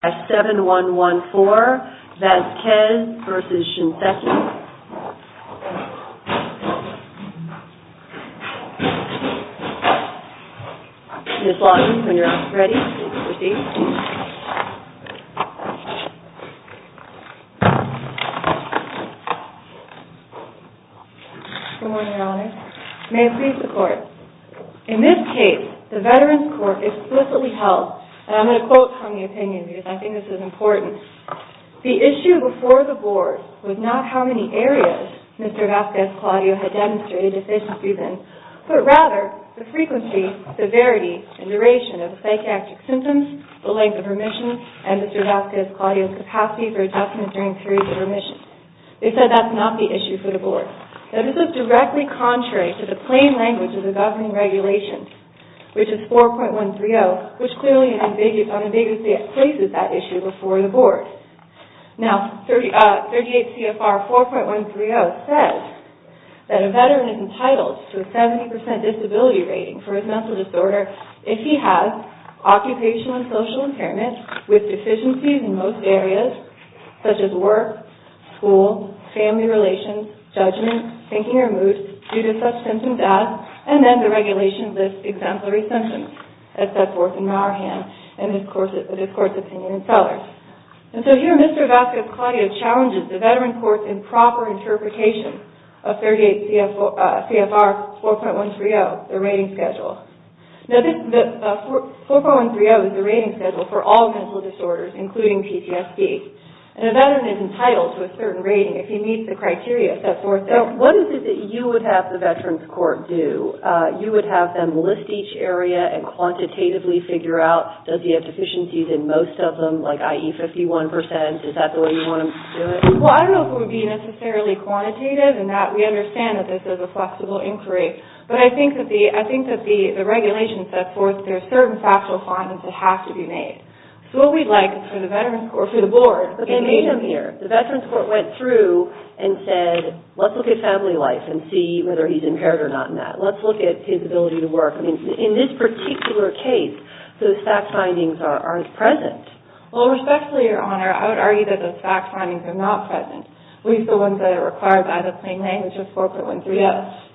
7114, Vasquez v. Shinseki. Ms. Loggins, when you're ready, please proceed. Good morning, Your Honor. May it please the Court. In this case, the Veterans Court explicitly held, and I'm going to quote from the opinion because I think this is important, the issue before the Board was not how many areas Mr. Vasquez-Claudio had demonstrated deficiency in, but rather the frequency, severity, and duration of psychiatric symptoms, the length of remission, and Mr. Vasquez-Claudio's capacity for adjustment during periods of remission. They said that's not the issue for the Board. They said this is directly contrary to the plain language of the governing regulations, which is 4.130, which clearly unambiguously places that issue before the Board. Now, 38 CFR 4.130 says that a Veteran is entitled to a 70% disability rating for his mental disorder if he has occupational and social impairments with deficiencies in most areas, such as work, school, family relations, judgment, thinking or mood due to such symptoms as, and then the regulations list exemplary symptoms, as set forth in Mauerhand and his Court's opinion in Sellers. And so here, Mr. Vasquez-Claudio challenges the Veterans Court's improper interpretation of 38 CFR 4.130, the rating schedule. Now, 4.130 is the rating schedule for all mental disorders, including PTSD, and a Veteran is entitled to a certain rating if he meets the criteria set forth there. So what is it that you would have the Veterans Court do? You would have them list each area and quantitatively figure out, does he have deficiencies in most of them, like IE 51%? Is that the way you want to do it? Well, I don't know if it would be necessarily quantitative in that we understand that this is a flexible inquiry, but I think that the regulations set forth there are certain factual findings that have to be made. So what we'd like is for the Veterans Court, or for the Board, to make them here. But they made them here. The Veterans Court went through and said, let's look at family life and see whether he's impaired or not in that. Let's look at his ability to work. I mean, in this particular case, those fact findings aren't present. Well, respectfully, Your Honor, I would argue that those fact findings are not present, at least the ones that are required by the plain language of 4.130.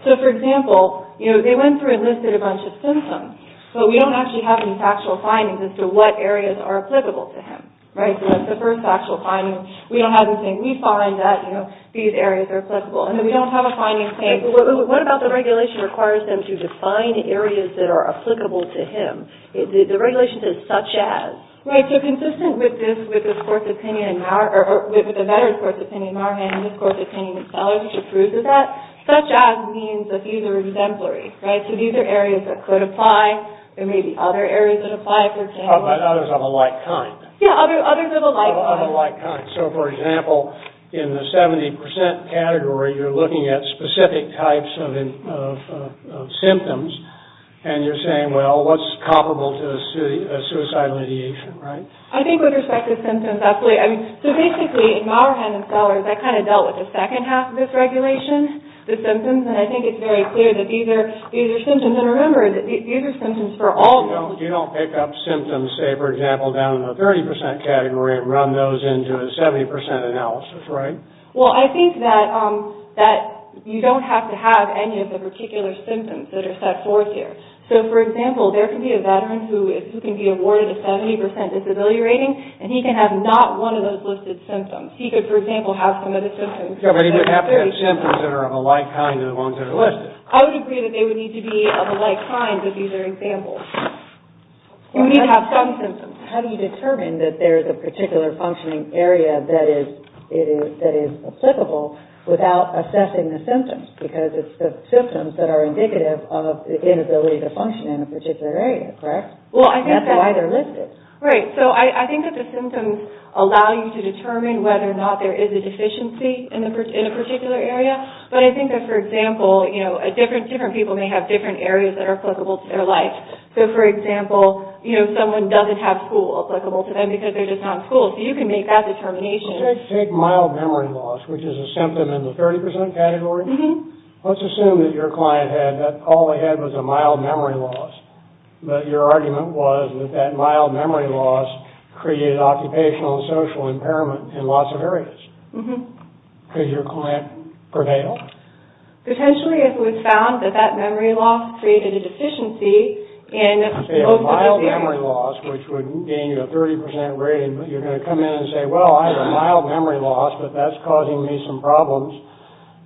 So, for example, they went through and listed a bunch of symptoms, but we don't actually have any factual findings as to what areas are applicable to him. Right? So that's the first factual finding. We don't have anything. We find that, you know, these areas are applicable. And then we don't have a finding saying – What about the regulation requires them to define areas that are applicable to him? The regulation says, such as. Right. So consistent with this, with this Court's opinion in our – or with the Veterans Court's opinion in our hand and this Court's opinion in Seller's which approves of that, such as means that these are exemplary. Right? So these are areas that could apply. There may be other areas that apply for him. But others of a like kind. Yeah, others of a like kind. Of a like kind. So, for example, in the 70 percent category, you're looking at specific types of symptoms, and you're saying, well, what's comparable to a suicidal ideation, right? I think with respect to symptoms, absolutely. I mean, so basically, in our hand in Seller's, that kind of dealt with the second half of this regulation, the symptoms, and I think it's very clear that these are symptoms. And remember, these are symptoms for all – You don't pick up symptoms, say, for example, down in the 30 percent category and run those into a 70 percent analysis, right? Well, I think that you don't have to have any of the particular symptoms that are set forth here. So, for example, there could be a Veteran who can be awarded a 70 percent disability rating, and he can have not one of those listed symptoms. He could, for example, have some of the symptoms. Yeah, but he would have to have symptoms that are of a like kind of the ones that are listed. Well, I would agree that they would need to be of a like kind if these are examples. You need to have some symptoms. How do you determine that there is a particular functioning area that is applicable without assessing the symptoms? Because it's the symptoms that are indicative of the inability to function in a particular area, correct? Well, I think that – That's why they're listed. Right, so I think that the symptoms allow you to determine whether or not there is a deficiency in a particular area. But I think that, for example, different people may have different areas that are applicable to their life. So, for example, someone doesn't have school applicable to them because they're just not in school. So you can make that determination. Take mild memory loss, which is a symptom in the 30 percent category. Let's assume that your client had – that all they had was a mild memory loss. But your argument was that that mild memory loss created occupational and social impairment in lots of areas. Mm-hmm. Could your client prevail? Potentially, if it was found that that memory loss created a deficiency in most of those areas. A mild memory loss, which would gain you a 30 percent rating. But you're going to come in and say, well, I have a mild memory loss, but that's causing me some problems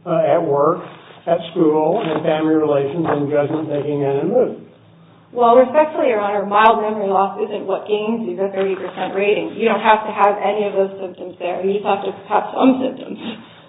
at work, at school, and in family relations, and in judgment-making, and in mood. Well, respectfully, Your Honor, mild memory loss isn't what gains you the 30 percent rating. You don't have to have any of those symptoms there. You just have to have some symptoms.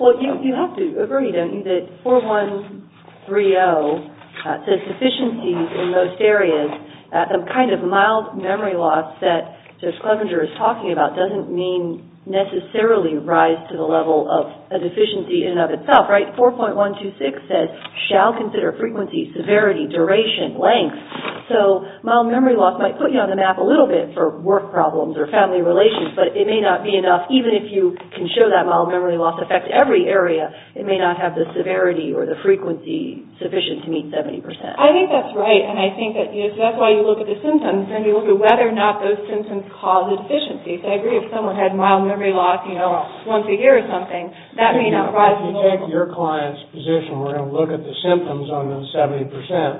Well, you have to agree, don't you, that 4130 says deficiencies in most areas. The kind of mild memory loss that Judge Clevenger is talking about doesn't mean necessarily rise to the level of a deficiency in and of itself, right? 4.126 says, shall consider frequency, severity, duration, length. So mild memory loss might put you on the map a little bit for work problems or family relations, but it may not be enough. Even if you can show that mild memory loss affects every area, it may not have the severity or the frequency sufficient to meet 70 percent. I think that's right, and I think that's why you look at the symptoms, and you look at whether or not those symptoms cause a deficiency. I agree if someone had mild memory loss, you know, once a year or something, that may not rise to the level. If you take your client's position, we're going to look at the symptoms on those 70 percent.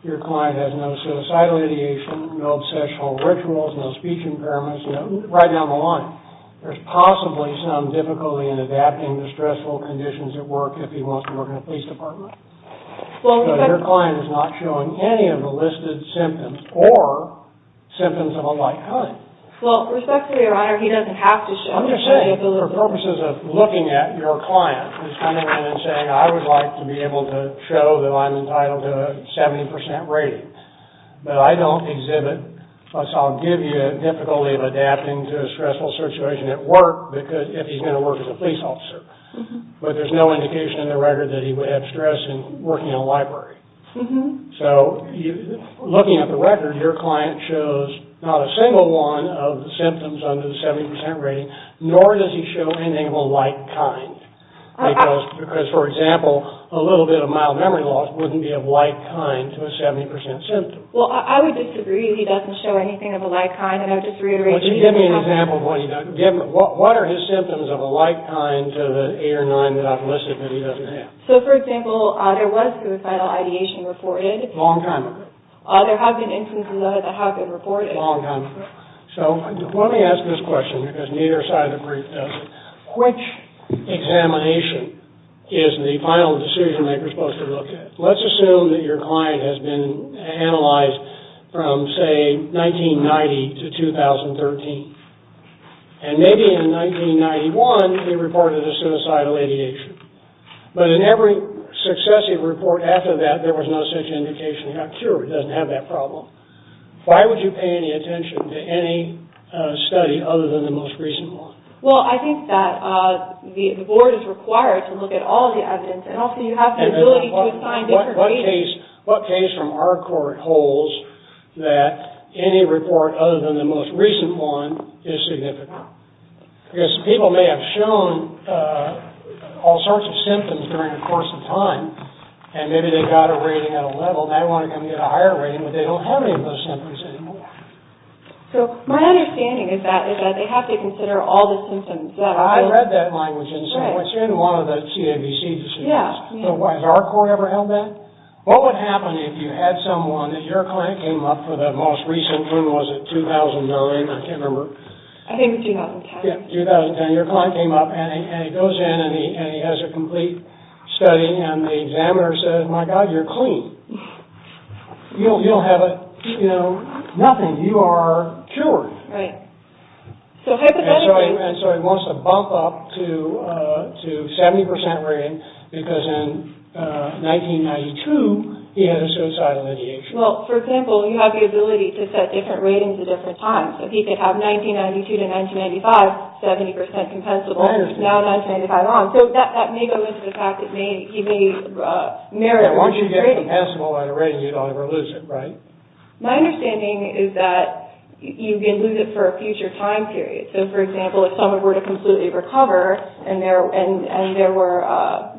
Your client has no suicidal ideation, no obsessional rituals, no speech impairments, right down the line. There's possibly some difficulty in adapting to stressful conditions at work if he wants to work in a police department. Your client is not showing any of the listed symptoms or symptoms of a like kind. Well, respectfully, Your Honor, he doesn't have to show. I'm just saying, for purposes of looking at your client who's coming in and saying, I would like to be able to show that I'm entitled to a 70 percent rating, but I don't exhibit, so I'll give you a difficulty of adapting to a stressful situation at work if he's going to work as a police officer. But there's no indication in the record that he would have stress in working in a library. So, looking at the record, your client shows not a single one of the symptoms under the 70 percent rating, nor does he show anything of a like kind. Because, for example, a little bit of mild memory loss wouldn't be of like kind to a 70 percent symptom. Well, I would disagree that he doesn't show anything of a like kind, and I would just reiterate that he doesn't have... Would you give me an example of what he doesn't... What are his symptoms of a like kind to the eight or nine that I've listed that he doesn't have? So, for example, there was suicidal ideation reported. Long time ago. There have been instances of it that have been reported. Long time ago. So, let me ask this question, because neither side of the brief does it. Which examination is the final decision maker supposed to look at? Let's assume that your client has been analyzed from, say, 1990 to 2013. And maybe in 1991, they reported a suicidal ideation. But in every successive report after that, there was no such indication he got cured. He doesn't have that problem. Why would you pay any attention to any study other than the most recent one? Well, I think that the board is required to look at all the evidence, and also you have the ability to assign different ratings. What case from our court holds that any report other than the most recent one is significant? Because people may have shown all sorts of symptoms during the course of time, and maybe they got a rating at a level, and they want to come get a higher rating, but they don't have any of those symptoms anymore. So, my understanding is that they have to consider all the symptoms. I read that language in some of the CAVC decisions. Has our court ever held that? What would happen if you had someone, and your client came up for the most recent one, was it 2009? I can't remember. I think it was 2010. Yeah, 2010. Your client came up, and he goes in, and he has a complete study, and the examiner says, My God, you're clean. You don't have a, you know, nothing. You are cured. Right. So, hypothetically. So, he wants to bump up to 70% rating, because in 1992, he had a suicidal ideation. Well, for example, you have the ability to set different ratings at different times. So, he could have 1992 to 1995, 70% compensable. I understand. Now, 1995 on. So, that may go into the fact that he may merit a reduced rating. Once you get compensable at a rating, you don't ever lose it, right? My understanding is that you can lose it for a future time period. So, for example, if someone were to completely recover, and there were,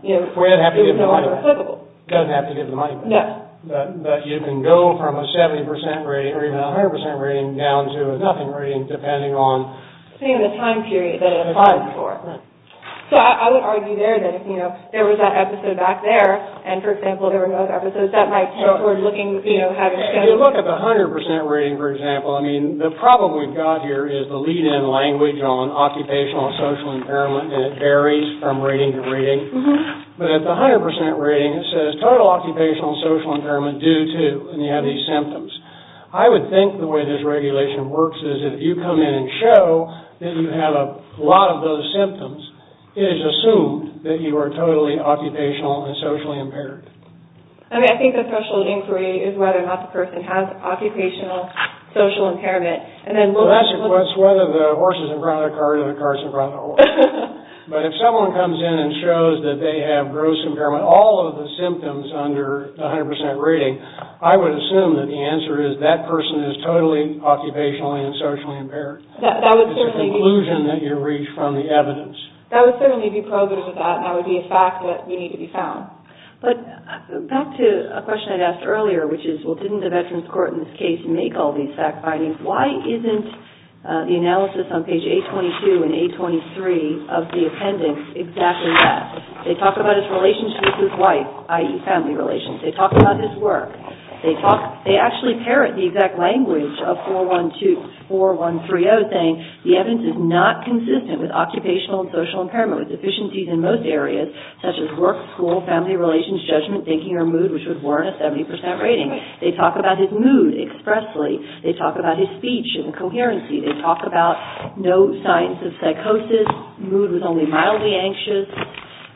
you know, He doesn't have to give the money back. He doesn't have to give the money back. No. But you can go from a 70% rating, or even a 100% rating, down to a nothing rating, depending on Depending on the time period that it applies for. So, I would argue there that if, you know, there was that episode back there, and, for example, there were those episodes, that might tend toward looking, you know, If you look at the 100% rating, for example, I mean, the problem we've got here is the lead-in language on occupational and social impairment, and it varies from rating to rating. But at the 100% rating, it says, Total occupational and social impairment due to, and you have these symptoms. I would think the way this regulation works is if you come in and show that you have a lot of those symptoms, it is assumed that you are totally occupational and socially impaired. I mean, I think the special inquiry is whether or not the person has occupational social impairment, and then we'll ask... It's whether the horse has in front of the car, or the car has in front of the horse. But if someone comes in and shows that they have gross impairment, all of the symptoms under the 100% rating, I would assume that the answer is that person is totally occupational and socially impaired. That would certainly be... It's a conclusion that you reach from the evidence. That would certainly be probative of that, and that would be a fact that you need to be found. But back to a question I'd asked earlier, which is, Well, didn't the Veterans Court in this case make all these fact findings? Why isn't the analysis on page 822 and 823 of the appendix exactly that? They talk about his relationship with his wife, i.e., family relations. They talk about his work. They actually parrot the exact language of 4130, saying, The evidence is not consistent with occupational and social impairment with deficiencies in most areas, such as work, school, family relations, judgment, thinking, or mood, which would warrant a 70% rating. They talk about his mood expressly. They talk about his speech and coherency. They talk about no signs of psychosis, mood with only mildly anxious.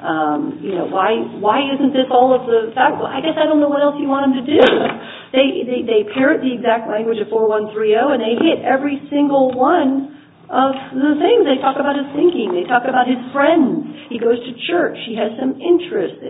Why isn't this all of the facts? I guess I don't know what else you want him to do. They parrot the exact language of 4130, and they hit every single one of the things. They talk about his thinking. They talk about his friends. He goes to church. He has some interests.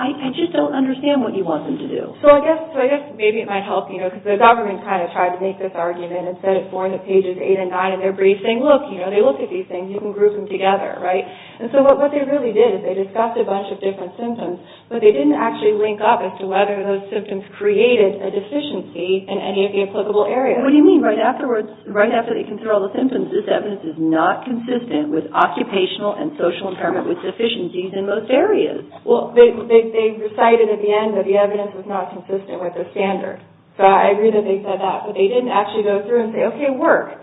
I just don't understand what you want them to do. I guess maybe it might help, because the government kind of tried to make this argument and said it's more in the pages 8 and 9, and they're briefed, saying, Look, they looked at these things. You can group them together. What they really did is they discussed a bunch of different symptoms, but they didn't actually link up as to whether those symptoms created a deficiency in any of the applicable areas. What do you mean? Right after they consider all the symptoms, this evidence is not consistent with occupational and social impairment with deficiencies in most areas. Well, they recited at the end that the evidence was not consistent with the standard. So I agree that they said that. But they didn't actually go through and say, Okay, work.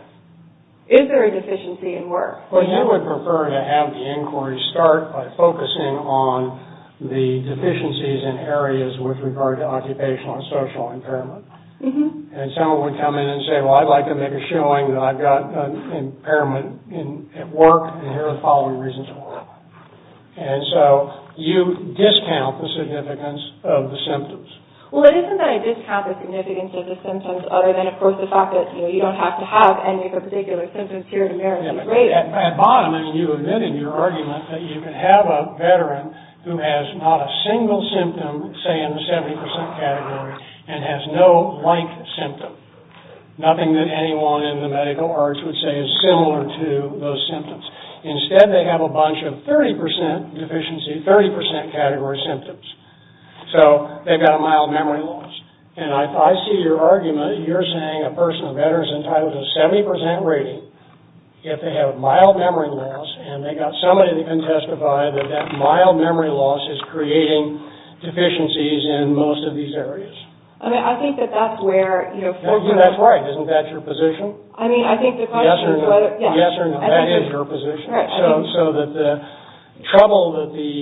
Is there a deficiency in work? Well, you would prefer to have the inquiry start by focusing on the deficiencies in areas with regard to occupational and social impairment. And someone would come in and say, Well, I'd like to make a showing that I've got an impairment at work, and here are the following reasons for it. And so you discount the significance of the symptoms. Well, it isn't that I discount the significance of the symptoms, other than, of course, the fact that you don't have to have any of the particular symptoms here in America. At bottom, you admitted in your argument that you can have a veteran who has not a single symptom, say in the 70% category, and has no like symptom. Nothing that anyone in the medical arts would say is similar to those symptoms. Instead, they have a bunch of 30% deficiency, 30% category symptoms. So they've got a mild memory loss. And I see your argument. You're saying a person, a veteran, is entitled to a 70% rating if they have mild memory loss, and they've got somebody that can testify that that mild memory loss is creating deficiencies in most of these areas. I mean, I think that that's where, you know, for you... That's right. Isn't that your position? I mean, I think the question is whether... Yes or no. Yes or no. That is your position. Right. So that the trouble that the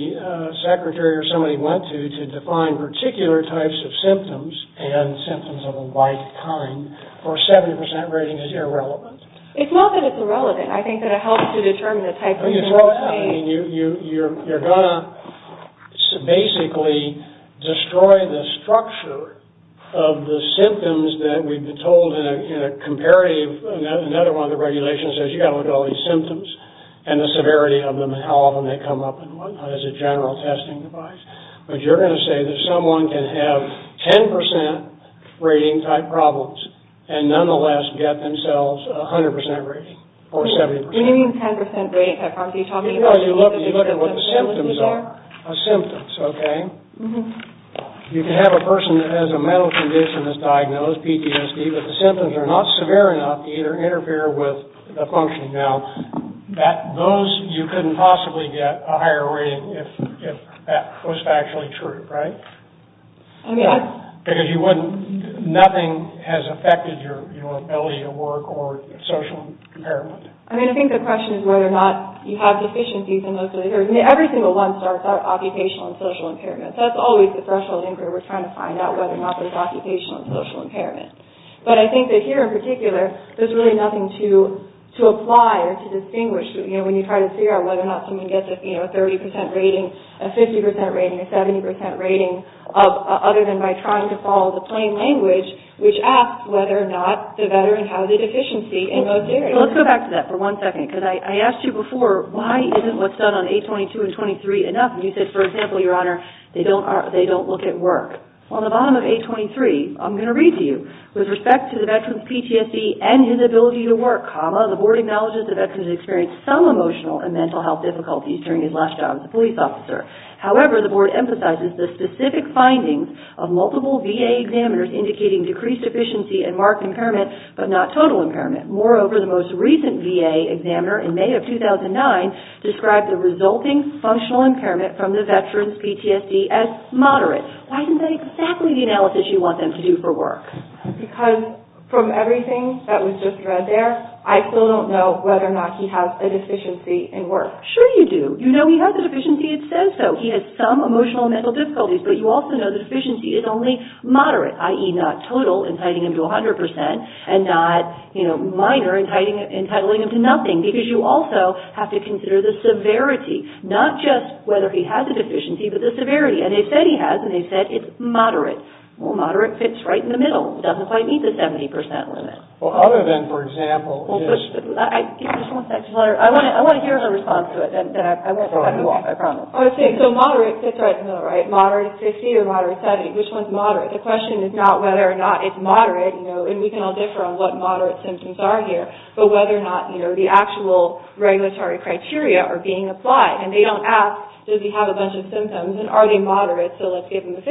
secretary or somebody went to to define particular types of symptoms, and symptoms of a like kind, for a 70% rating is irrelevant. It's not that it's irrelevant. I think that it helps to determine the type of symptoms. You're going to basically destroy the structure of the symptoms that we've been told in a comparative... Another one of the regulations says you've got to look at all these symptoms, and the severity of them, and how often they come up, and what not, as a general testing device. But you're going to say that someone can have 10% rating type problems, and nonetheless get themselves a 100% rating, or a 70%. What do you mean 10% rating type problems? Are you talking about... No, you look at what the symptoms are, the symptoms, okay? You can have a person that has a mental condition that's diagnosed, PTSD, but the symptoms are not severe enough to either interfere with the functioning. Now, those you couldn't possibly get a higher rating if that was actually true, right? I mean, I... Because you wouldn't... Nothing has affected your ability to work or social impairment. I mean, I think the question is whether or not you have deficiencies in those... I mean, every single one starts out occupational and social impairment. That's always the threshold inquiry we're trying to find out, whether or not there's occupational and social impairment. But I think that here, in particular, there's really nothing to apply or to distinguish. You know, when you try to figure out whether or not someone gets a 30% rating, a 50% rating, a 70% rating, other than by trying to follow the plain language, which asks whether or not the veteran has a deficiency in those areas. Well, let's go back to that for one second, because I asked you before, why isn't what's done on 822 and 823 enough? And you said, for example, Your Honor, they don't look at work. Well, on the bottom of 823, I'm going to read to you, with respect to the veteran's PTSD and his ability to work, comma, the board acknowledges the veteran has experienced some emotional and mental health difficulties during his last job as a police officer. However, the board emphasizes the specific findings of multiple VA examiners indicating decreased efficiency and marked impairment, but not total impairment. Moreover, the most recent VA examiner, in May of 2009, described the resulting functional impairment from the veteran's PTSD as moderate. Why isn't that exactly the analysis you want them to do for work? Because from everything that was just read there, I still don't know whether or not he has a deficiency in work. Sure you do. You know he has a deficiency, it says so. He has some emotional and mental difficulties, but you also know the deficiency is only moderate, i.e., not total, inciting him to 100%, and not, you know, minor, inciting him to nothing, because you also have to consider the severity, not just whether he has a deficiency, but the severity. And they said he has, and they said it's moderate. Well, moderate fits right in the middle. It doesn't quite meet the 70% limit. Well, other than, for example, his... I want to hear her response to it. I promise. So moderate fits right in the middle, right? Moderate is 50 or moderate is 70. Which one's moderate? The question is not whether or not it's moderate, you know, and we can all differ on what moderate symptoms are here, but whether or not, you know, the actual regulatory criteria are being applied. And they don't ask, does he have a bunch of symptoms, and are they moderate, so let's give him a 50.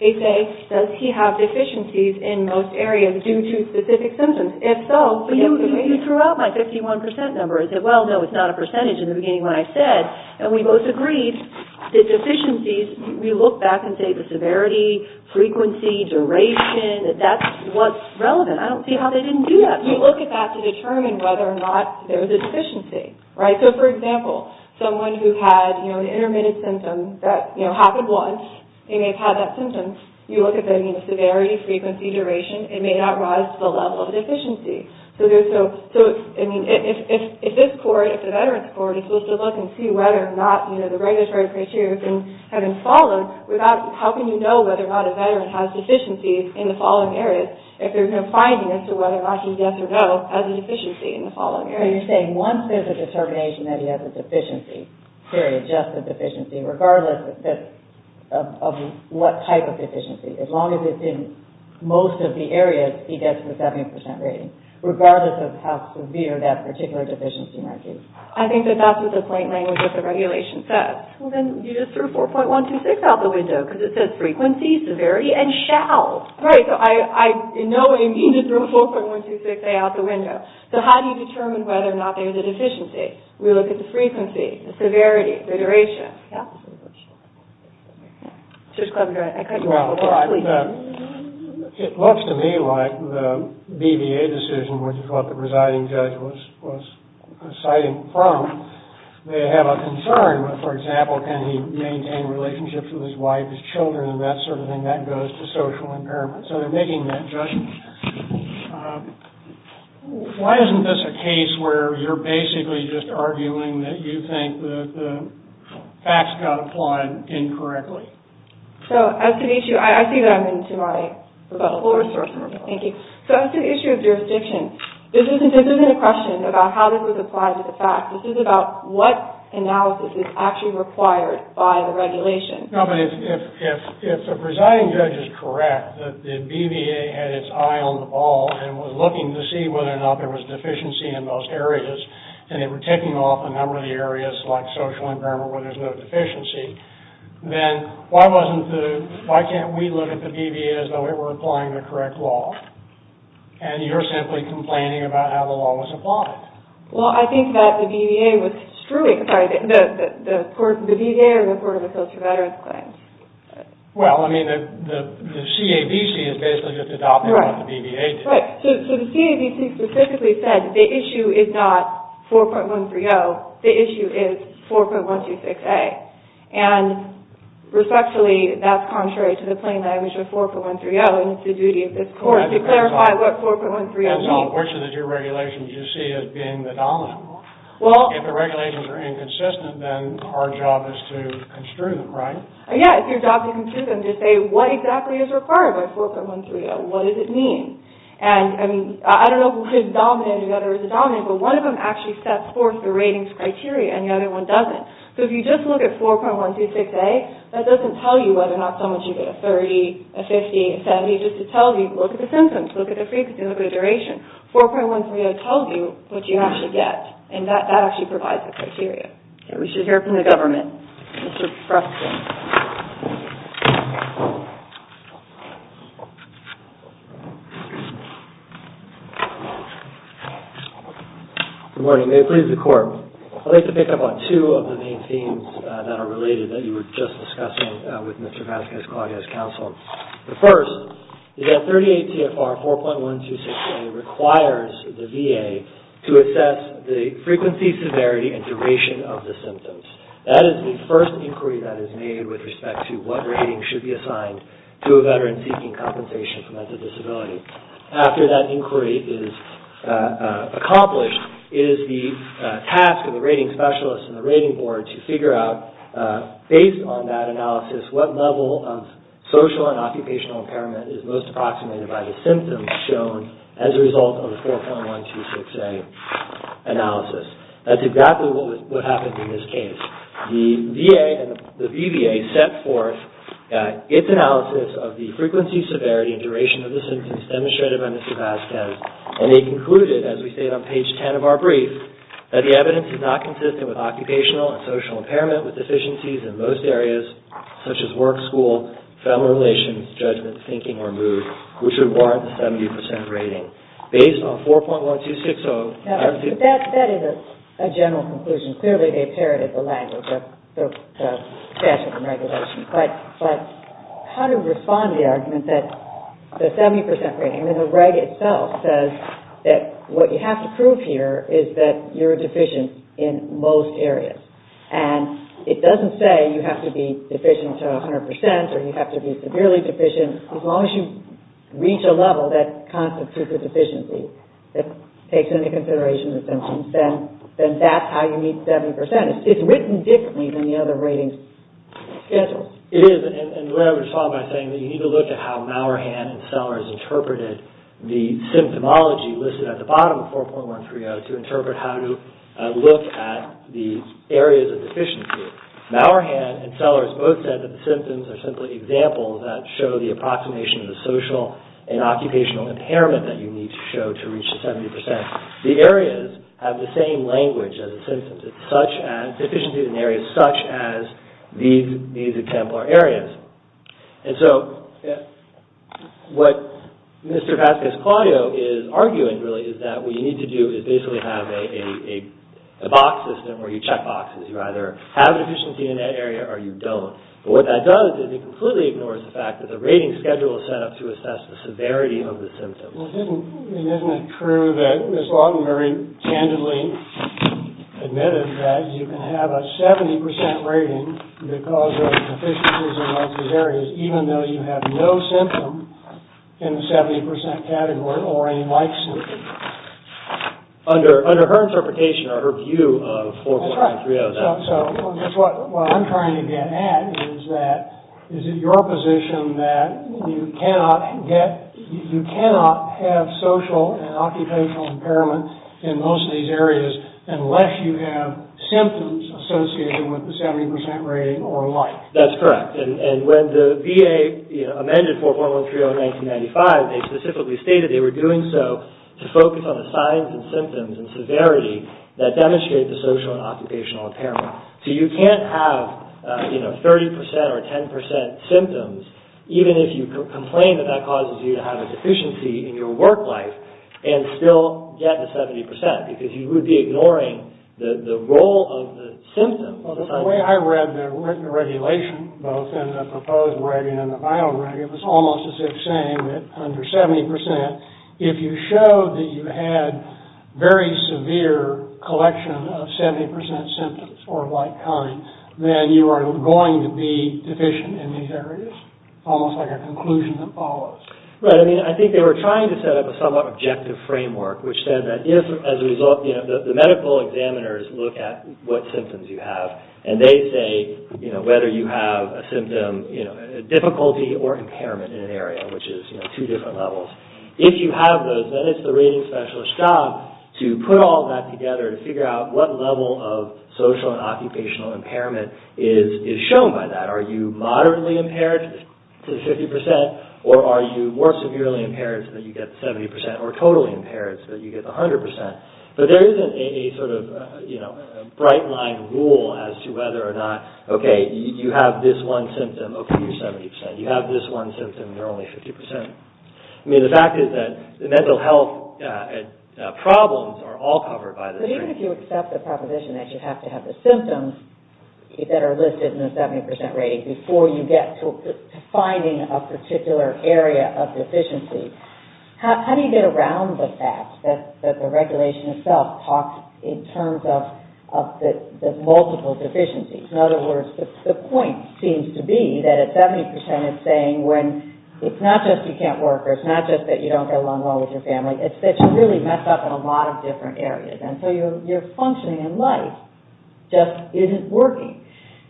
They say, does he have deficiencies in most areas due to specific symptoms? If so... You threw out my 51% number. I said, well, no, it's not a percentage in the beginning when I said, and we both agreed that deficiencies, we look back and say the severity, frequency, duration, that that's what's relevant. I don't see how they didn't do that. We look at that to determine whether or not there's a deficiency, right? So, for example, someone who had, you know, an intermittent symptom that, you know, happened once, and they've had that symptom, you look at the severity, frequency, duration, it may not rise to the level of deficiency. So, I mean, if this court, if the veteran's court, is supposed to look and see whether or not, you know, the regulatory criteria have been followed, how can you know whether or not a veteran has deficiencies in the following areas if there's no finding as to whether or not he's yes or no as a deficiency in the following areas? So you're saying once there's a determination that he has a deficiency, period, just a deficiency, regardless of what type of deficiency, as long as it's in most of the areas, he gets the 70% rating, regardless of how severe that particular deficiency might be. I think that that's what the plain language of the regulation says. Well, then you just threw 4.126 out the window, because it says frequency, severity, and shall. Right, so I in no way mean to throw 4.126A out the window. So how do you determine whether or not there's a deficiency? We look at the frequency, the severity, the duration. It looks to me like the BVA decision, which is what the presiding judge was citing from, may have a concern. For example, can he maintain relationships with his wife, his children, and that sort of thing? That goes to social impairment. So they're making that judgment. Why isn't this a case where you're basically just arguing that you think the facts got applied incorrectly? So as to the issue, I see that I'm into my rebuttal. Thank you. So as to the issue of jurisdiction, this isn't a question about how this was applied to the facts. This is about what analysis is actually required by the regulation. No, but if the presiding judge is correct that the BVA had its eye on the ball and was looking to see whether or not there was deficiency in those areas, and they were taking off a number of the areas like social impairment where there's no deficiency, then why can't we look at the BVA as though it were applying the correct law? And you're simply complaining about how the law was applied. Well, I think that the BVA was strewing. Sorry, the BVA or the Court of Appeals for Veterans Claims? Well, I mean, the CABC is basically just adopting what the BVA did. Right. So the CABC specifically said the issue is not 4.130. The issue is 4.126a. And respectfully, that's contrary to the plain language of 4.130 and it's the duty of this Court to clarify what 4.130 means. Well, unfortunately, your regulations you see as being the dominant law. If the regulations are inconsistent, then our job is to construe them, right? Yeah, it's your job to construe them to say what exactly is required by 4.130. What does it mean? And, I mean, I don't know if it's dominant or whether it's dominant, but one of them actually sets forth the ratings criteria and the other one doesn't. So if you just look at 4.126a, that doesn't tell you whether or not someone should get a 30, a 50, a 70, it just tells you, look at the symptoms, look at the frequency, look at the duration. 4.130 tells you what you actually get, and that actually provides the criteria. Okay, we should hear from the government. Mr. Fruskin. Good morning. May it please the Court. I'd like to pick up on two of the main themes that are related that you were just discussing with Mr. Vasquez-Claudio's counsel. The first is that 38 CFR 4.126a requires the VA to assess the frequency, severity, and duration of the symptoms. That is the first inquiry that is made with respect to what rating should be assigned to a veteran seeking compensation for mental disability. After that inquiry is accomplished, it is the task of the rating specialist and the rating board to figure out, based on that analysis, what level of social and occupational impairment is most approximated by the symptoms shown as a result of the 4.126a analysis. That's exactly what happened in this case. The VA, the BVA, set forth its analysis of the frequency, severity, and duration of the symptoms demonstrated by Mr. Vasquez, and they concluded, as we state on page 10 of our brief, that the evidence is not consistent with occupational and social impairment with deficiencies in most areas, such as work, school, family relations, judgment, thinking, or mood, which would warrant the 70% rating. Based on 4.126a... That is a general conclusion. Clearly, they parroted the language of statute and regulation. But how to respond to the argument that the 70% rating, and the reg itself says that what you have to prove here is that you're deficient in most areas. And it doesn't say you have to be deficient to 100% or you have to be severely deficient. As long as you reach a level that constitutes a deficiency that takes into consideration the symptoms, then that's how you meet 70%. It's written differently than the other rating schedules. It is. And what I would solve by saying that you need to look at how Mauerhand and Sellers interpreted the symptomology listed at the bottom of 4.130 to interpret how to look at the areas of deficiency. Mauerhand and Sellers both said that the symptoms are simply examples that show the approximation of the social and occupational impairment that you need to show to reach the 70%. The areas have the same language as the symptoms, such as deficiencies in areas such as these exemplar areas. And so, what Mr. Vasquez-Claudio is arguing, really, is that what you need to do is basically have a box system where you check boxes. You either have a deficiency in that area or you don't. But what that does is it completely ignores the fact that the rating schedule is set up to assess the severity of the symptoms. Well, isn't it true that Ms. Wadden-Murray candidly admitted that you can have a 70% rating because of deficiencies in those areas, even though you have no symptom in the 70% category or any like symptom? Under her interpretation or her view of 4.130. That's right. So, what I'm trying to get at is that, is it your position that you cannot get, you cannot have social and occupational impairment in most of these areas unless you have symptoms associated with the 70% rating or like? That's correct. And when the VA amended 4.130 in 1995, they specifically stated they were doing so to focus on the signs and symptoms and severity that demonstrate the social and occupational impairment. So, you can't have, you know, 30% or 10% symptoms, even if you complain that that causes you to have a deficiency in your work life and still get the 70% because you would be ignoring the role of the symptoms. The way I read the regulation, both in the proposed rating and the final rating, it was almost as if saying that under 70%, if you showed that you had very severe collection of 70% symptoms or like kind, then you are going to be deficient in these areas, almost like a conclusion that follows. Right. I mean, I think they were trying to set up a somewhat objective framework, which said that if as a result, you know, the medical examiners look at what symptoms you have and they say, you know, whether you have a symptom, you know, difficulty or impairment in an area, which is, you know, two different levels. If you have those, then it's the rating specialist's job to put all that together to figure out what level of social and occupational impairment is shown by that. Are you moderately impaired to 50% or are you more severely impaired so that you get 70% or totally impaired so that you get 100%? But there isn't a sort of, you know, bright line rule as to whether or not, okay, you have this one symptom, okay, you're 70%. You have this one symptom, you're only 50%. I mean, the fact is that the mental health problems are all covered by this rating. But even if you accept the proposition that you have to have the symptoms that are listed in the 70% rating before you get to finding a particular area of deficiency, how do you get around the fact that the regulation itself talks in terms of the multiple deficiencies? In other words, the point seems to be that a 70% is saying when it's not just you can't work or it's not just that you don't get along well with your family, it's that you really mess up in a lot of different areas. And so your functioning in life just isn't working.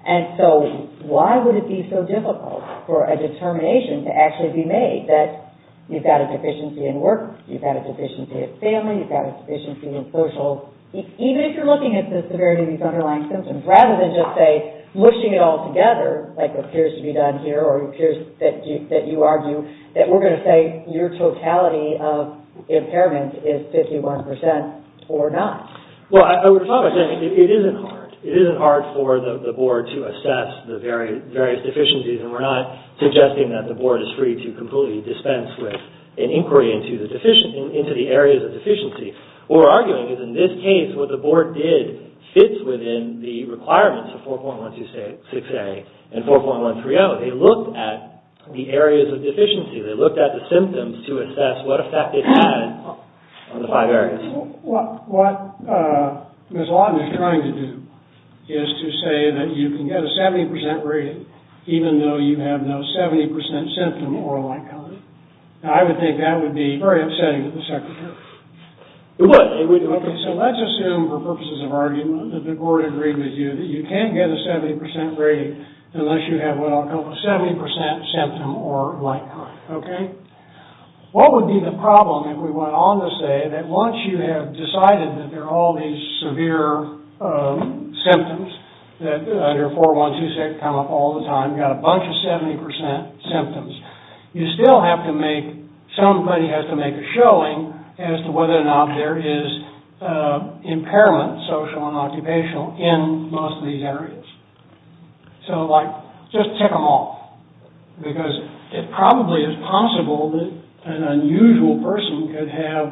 And so why would it be so difficult for a determination to actually be made that you've got a deficiency in work, you've got a deficiency in family, you've got a deficiency in social, even if you're looking at the severity of these underlying symptoms, rather than just say mushing it all together like appears to be done here or appears that you argue that we're going to say your totality of impairment is 51% or not? Well, I would start by saying it isn't hard. It isn't hard for the board to assess the various deficiencies, and we're not suggesting that the board is free to completely dispense with an inquiry into the areas of deficiency. What we're arguing is in this case what the board did fits within the requirements of 4.126A and 4.130. They looked at the areas of deficiency. They looked at the symptoms to assess what effect it had on the five areas. What Ms. Lawton is trying to do is to say that you can get a 70% rating even though you have no 70% symptom or like-kind. I would think that would be very upsetting to the secretary. It would. It would. Okay, so let's assume for purposes of argument that the board agreed with you that you can't get a 70% rating unless you have what I'll call a 70% symptom or like-kind, okay? What would be the problem if we went on to say that once you have decided that there are all these severe symptoms that under 4.126 come up all the time, you've got a bunch of 70% symptoms, you still have to make, somebody has to make a showing as to whether or not there is impairment, social and occupational, in most of these areas. So like just tick them off because it probably is possible that an unusual person could have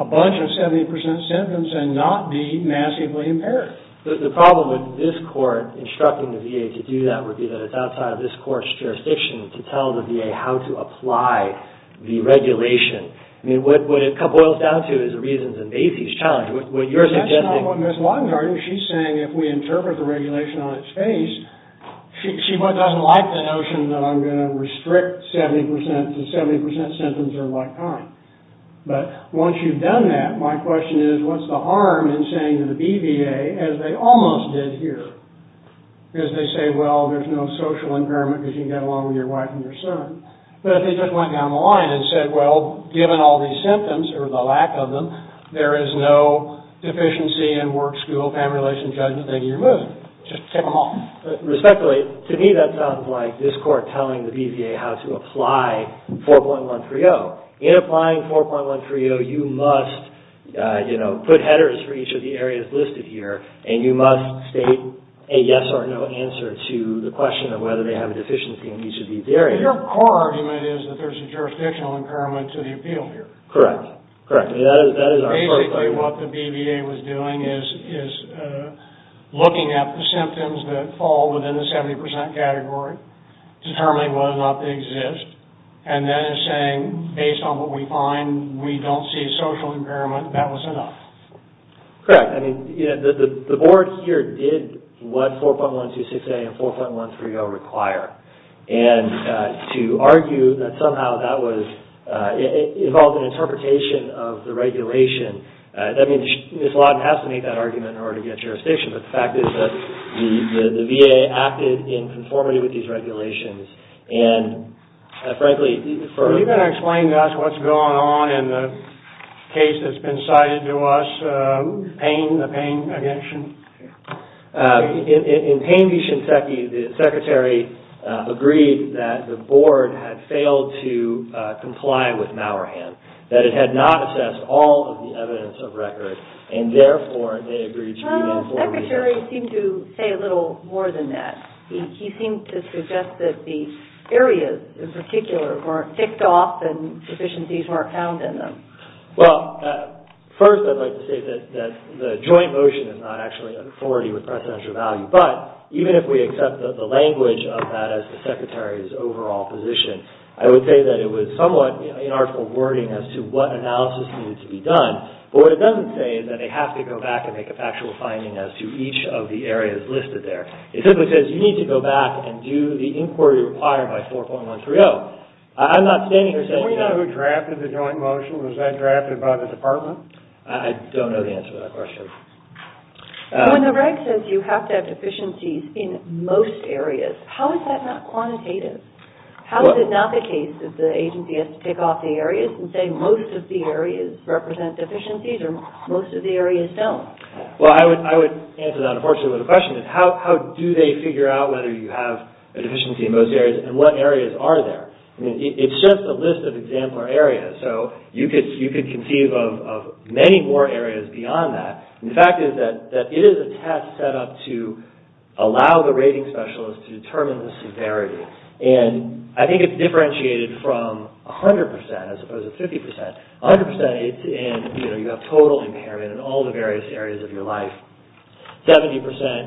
a bunch of 70% symptoms and not be massively impaired. Sure. The problem with this court instructing the VA to do that would be that it's outside of this court's jurisdiction to tell the VA how to apply the regulation. I mean, what it boils down to is the reasons in Macy's challenge. What you're suggesting... That's not what Ms. Lockhart is saying. If we interpret the regulation on its face, she doesn't like the notion that I'm going to restrict 70% to 70% symptoms or like-kind. But once you've done that, my question is what's the harm in saying to the BVA, as they almost did here, because they say, well, there's no social impairment because you can get along with your wife and your son, but if they just went down the line and said, well, given all these symptoms or the lack of them, there is no deficiency in work, school, family relations, judgment, then you're good. Just tick them off. Respectfully, to me that sounds like this court telling the BVA how to apply 4.130. There you go. In applying 4.130, you must put headers for each of the areas listed here and you must state a yes or no answer to the question of whether they have a deficiency in each of these areas. Your core argument is that there's a jurisdictional impairment to the appeal here. Correct. Basically what the BVA was doing is looking at the symptoms that fall within the 70% category, determining whether or not they exist, and then saying, based on what we find, we don't see a social impairment. That was enough. Correct. The board here did what 4.126A and 4.130 require, and to argue that somehow that involved an interpretation of the regulation, I mean, Ms. Lawton has to make that argument in order to get jurisdiction, but the fact is that the VA acted in conformity with these regulations and, frankly, for... Are you going to explain to us what's going on in the case that's been cited to us? Who? Payne, the Payne v. Shinseki. In Payne v. Shinseki, the secretary agreed that the board had failed to comply with Mauerhand, that it had not assessed all of the evidence of record, and therefore they agreed to... The secretary seemed to say a little more than that. He seemed to suggest that the areas in particular weren't ticked off and deficiencies weren't found in them. Well, first I'd like to say that the joint motion is not actually an authority with precedential value, but even if we accept the language of that as the secretary's overall position, I would say that it was somewhat inarticulate wording as to what analysis needed to be done, but what it doesn't say is that they have to go back and make a factual finding as to each of the areas listed there. It simply says you need to go back and do the inquiry required by 4.130. I'm not standing here saying... Were you not who drafted the joint motion? Was that drafted by the department? I don't know the answer to that question. When the reg says you have to have deficiencies in most areas, how is that not quantitative? How is it not the case that the agency has to tick off the areas and say most of the areas represent deficiencies or most of the areas don't? Well, I would answer that unfortunately with a question. How do they figure out whether you have a deficiency in most areas and what areas are there? It's just a list of example areas, so you could conceive of many more areas beyond that. The fact is that it is a test set up to allow the rating specialist to determine the severity, and I think it's differentiated from 100% as opposed to 50%. 100% is in you have total impairment in all the various areas of your life. 70%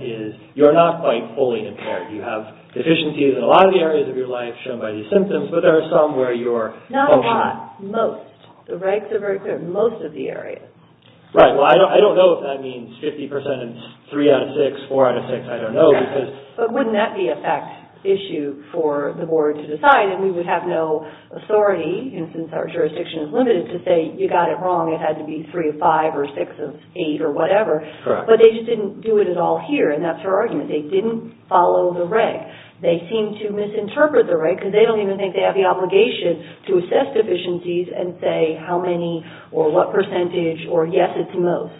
is you're not quite fully impaired. You have deficiencies in a lot of the areas of your life shown by these symptoms, but there are some where you're... Not a lot. Most. The regs are very clear. Most of the areas. Right. Well, I don't know if that means 50% is three out of six, four out of six. I don't know because... But wouldn't that be a fact issue for the board to decide, and we would have no authority, since our jurisdiction is limited, to say you got it wrong. It had to be three of five or six of eight or whatever. Correct. But they just didn't do it at all here, and that's their argument. They didn't follow the reg. They seem to misinterpret the reg because they don't even think they have the obligation to assess deficiencies and say how many or what percentage or yes, it's most.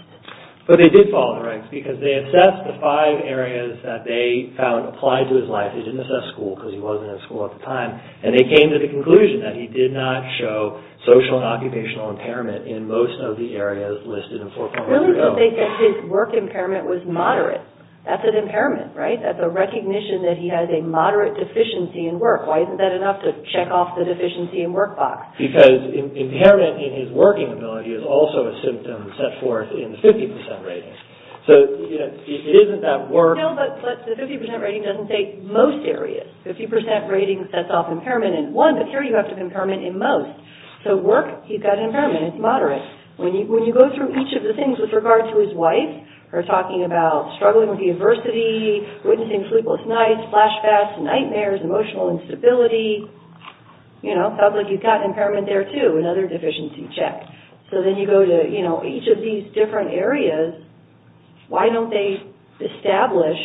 But they did follow the regs because they assessed the five areas that they found applied to his life. They didn't assess school because he wasn't in school at the time, and they came to the conclusion that he did not show social and occupational impairment in most of the areas listed in 4.0. Really, they think that his work impairment was moderate. That's an impairment, right? That's a recognition that he has a moderate deficiency in work. Why isn't that enough to check off the deficiency in work box? Because impairment in his working ability is also a symptom set forth in the 50% rating. So it isn't that work... No, but the 50% rating doesn't take most areas. The 50% rating sets off impairment in one, but here you have to impairment in most. So work, he's got an impairment. It's moderate. When you go through each of the things with regard to his wife, we're talking about struggling with the adversity, witnessing sleepless nights, flashbacks, nightmares, emotional instability, you know, in public you've got impairment there, too, another deficiency check. So then you go to each of these different areas. Why don't they establish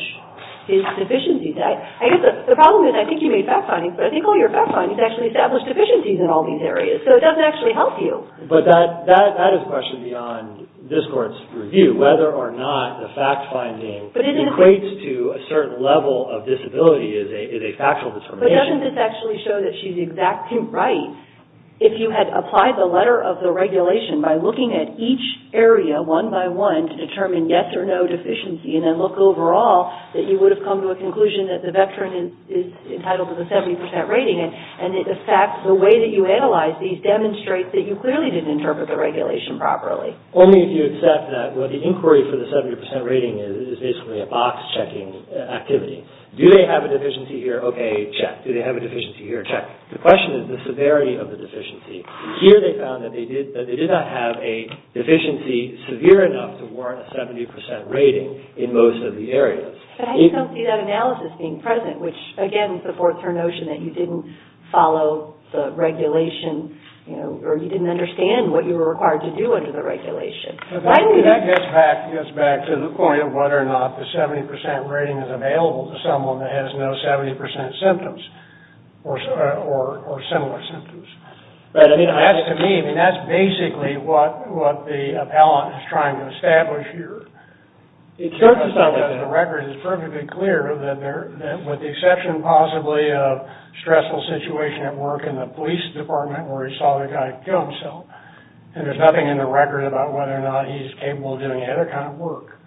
his deficiencies? I guess the problem is I think you made fact findings, but I think all your fact findings actually establish deficiencies in all these areas, so it doesn't actually help you. But that is a question beyond this court's review, whether or not the fact finding equates to a certain level of disability is a factual determination. But doesn't this actually show that she's exactly right? If you had applied the letter of the regulation by looking at each area, one by one, to determine yes or no deficiency and then look overall that you would have come to a conclusion that the veteran is entitled to the 70% rating and, in fact, the way that you analyze these demonstrates that you clearly didn't interpret the regulation properly. Only if you accept that what the inquiry for the 70% rating is is basically a box-checking activity. Do they have a deficiency here? Okay, check. Do they have a deficiency here? Check. The question is the severity of the deficiency. Here they found that they did not have a deficiency severe enough to warrant a 70% rating in most of the areas. But I don't see that analysis being present, which, again, supports her notion that you didn't follow the regulation or you didn't understand what you were required to do under the regulation. That gets back to the point of whether or not the 70% rating is available to someone that has no 70% symptoms or similar symptoms. To me, that's basically what the appellant is trying to establish here. The record is perfectly clear that with the exception, possibly, of stressful situation at work in the police department where he saw the guy kill himself, and there's nothing in the record about whether or not he's capable of doing any other kind of work,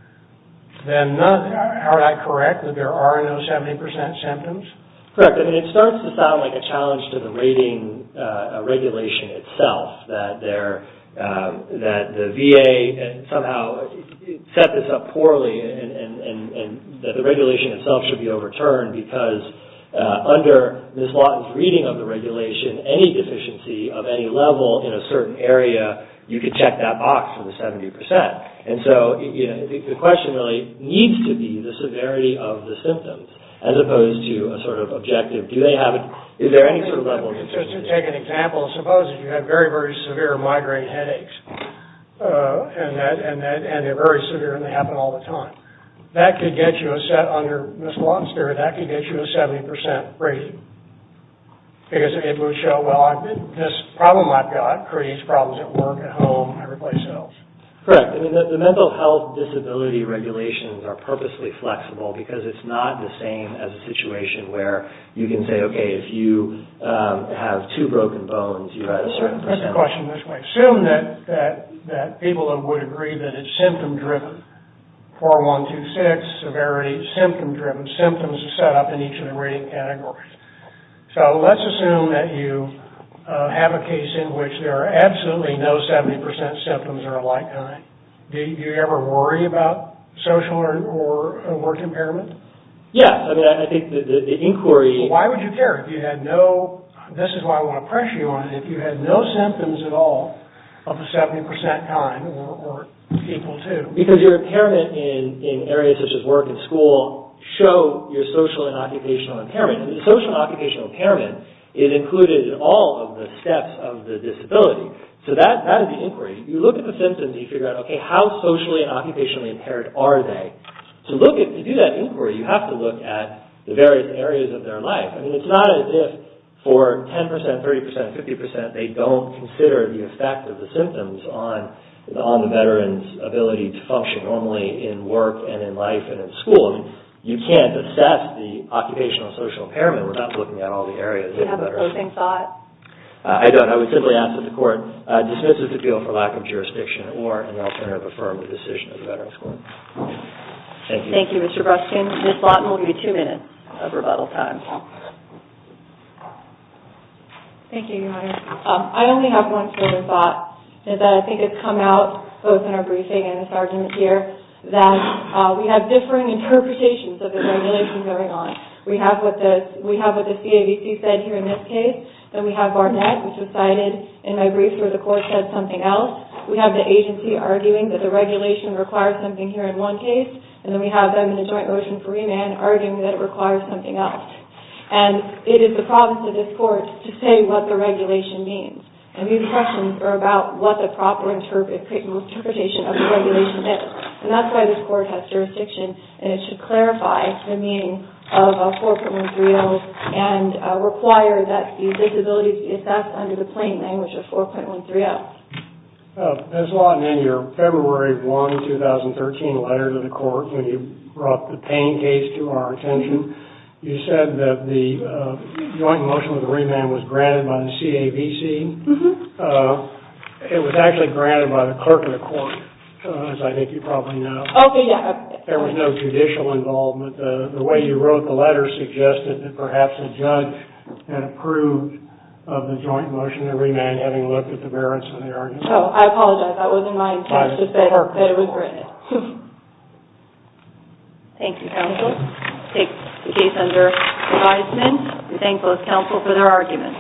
then are I correct that there are no 70% symptoms? Correct. It starts to sound like a challenge to the rating regulation itself, that the VA somehow set this up poorly and that the regulation itself should be overturned because under Ms. Lawton's reading of the regulation, any deficiency of any level in a certain area, you could check that box for the 70%. And so the question really needs to be the severity of the symptoms as opposed to a sort of objective. Do they have it? Is there any sort of level of deficiency? Just to take an example, suppose you have very, very severe migraine headaches and they're very severe and they happen all the time. That could get you a set under Ms. Lawton's period. That could get you a 70% rating because it would show, well, this problem I've got creates problems at work, at home, every place else. Correct. I mean, the mental health disability regulations are purposely flexible because it's not the same as a situation where you can say, okay, if you have two broken bones, you've got a certain percentage. Let's put the question this way. Assume that people would agree that it's symptom-driven. 4126, severity, symptom-driven. Symptoms are set up in each of the rating categories. So let's assume that you have a case in which there are absolutely no 70% symptoms of a like kind. Do you ever worry about social or work impairment? Yes. I mean, I think the inquiry... So why would you care if you had no... This is why I want to pressure you on it. If you had no symptoms at all of a 70% kind or equal to... Because your impairment in areas such as work and school show your social and occupational impairment. Social and occupational impairment, it included all of the steps of the disability. So that would be inquiry. You look at the symptoms and you figure out, okay, how socially and occupationally impaired are they? To do that inquiry, you have to look at the various areas of their life. I mean, it's not as if for 10%, 30%, 50%, they don't consider the effect of the symptoms on the veteran's ability to function normally in work and in life and in school. I mean, you can't assess the occupational and social impairment without looking at all the areas. Do you have a closing thought? I don't. I would simply ask that the Court dismisses the appeal for lack of jurisdiction or in the alternative, affirm the decision of the Veterans Court. Thank you. Thank you, Mr. Breskin. Ms. Lawton, we'll give you two minutes of rebuttal time. Thank you, Your Honor. I only have one further thought. I think it's come out both in our briefing and this argument here that we have differing interpretations of the regulations going on. We have what the CAVC said here in this case. Then we have Barnett, which was cited in my brief where the Court said something else. We have the agency arguing that the regulation requires something here in one case, and then we have them in a joint motion for remand arguing that it requires something else. And it is the province of this Court to say what the regulation means. And these questions are about what the proper interpretation of the regulation is. And that's why this Court has jurisdiction, and it should clarify the meaning of 4.130 and require that the disability be assessed under the plain language of 4.130. Ms. Lawton, in your February 1, 2013, letter to the Court when you brought the Payne case to our attention, you said that the joint motion for remand was granted by the CAVC. It was actually granted by the clerk of the Court, as I think you probably know. Okay, yeah. There was no judicial involvement. The way you wrote the letter suggested that perhaps a judge had approved of the joint motion for remand, having looked at the merits of the argument. Oh, I apologize. That wasn't my intention, but it was granted. Thank you, counsel. We take the case under advisement. We thank both counsel for their arguments.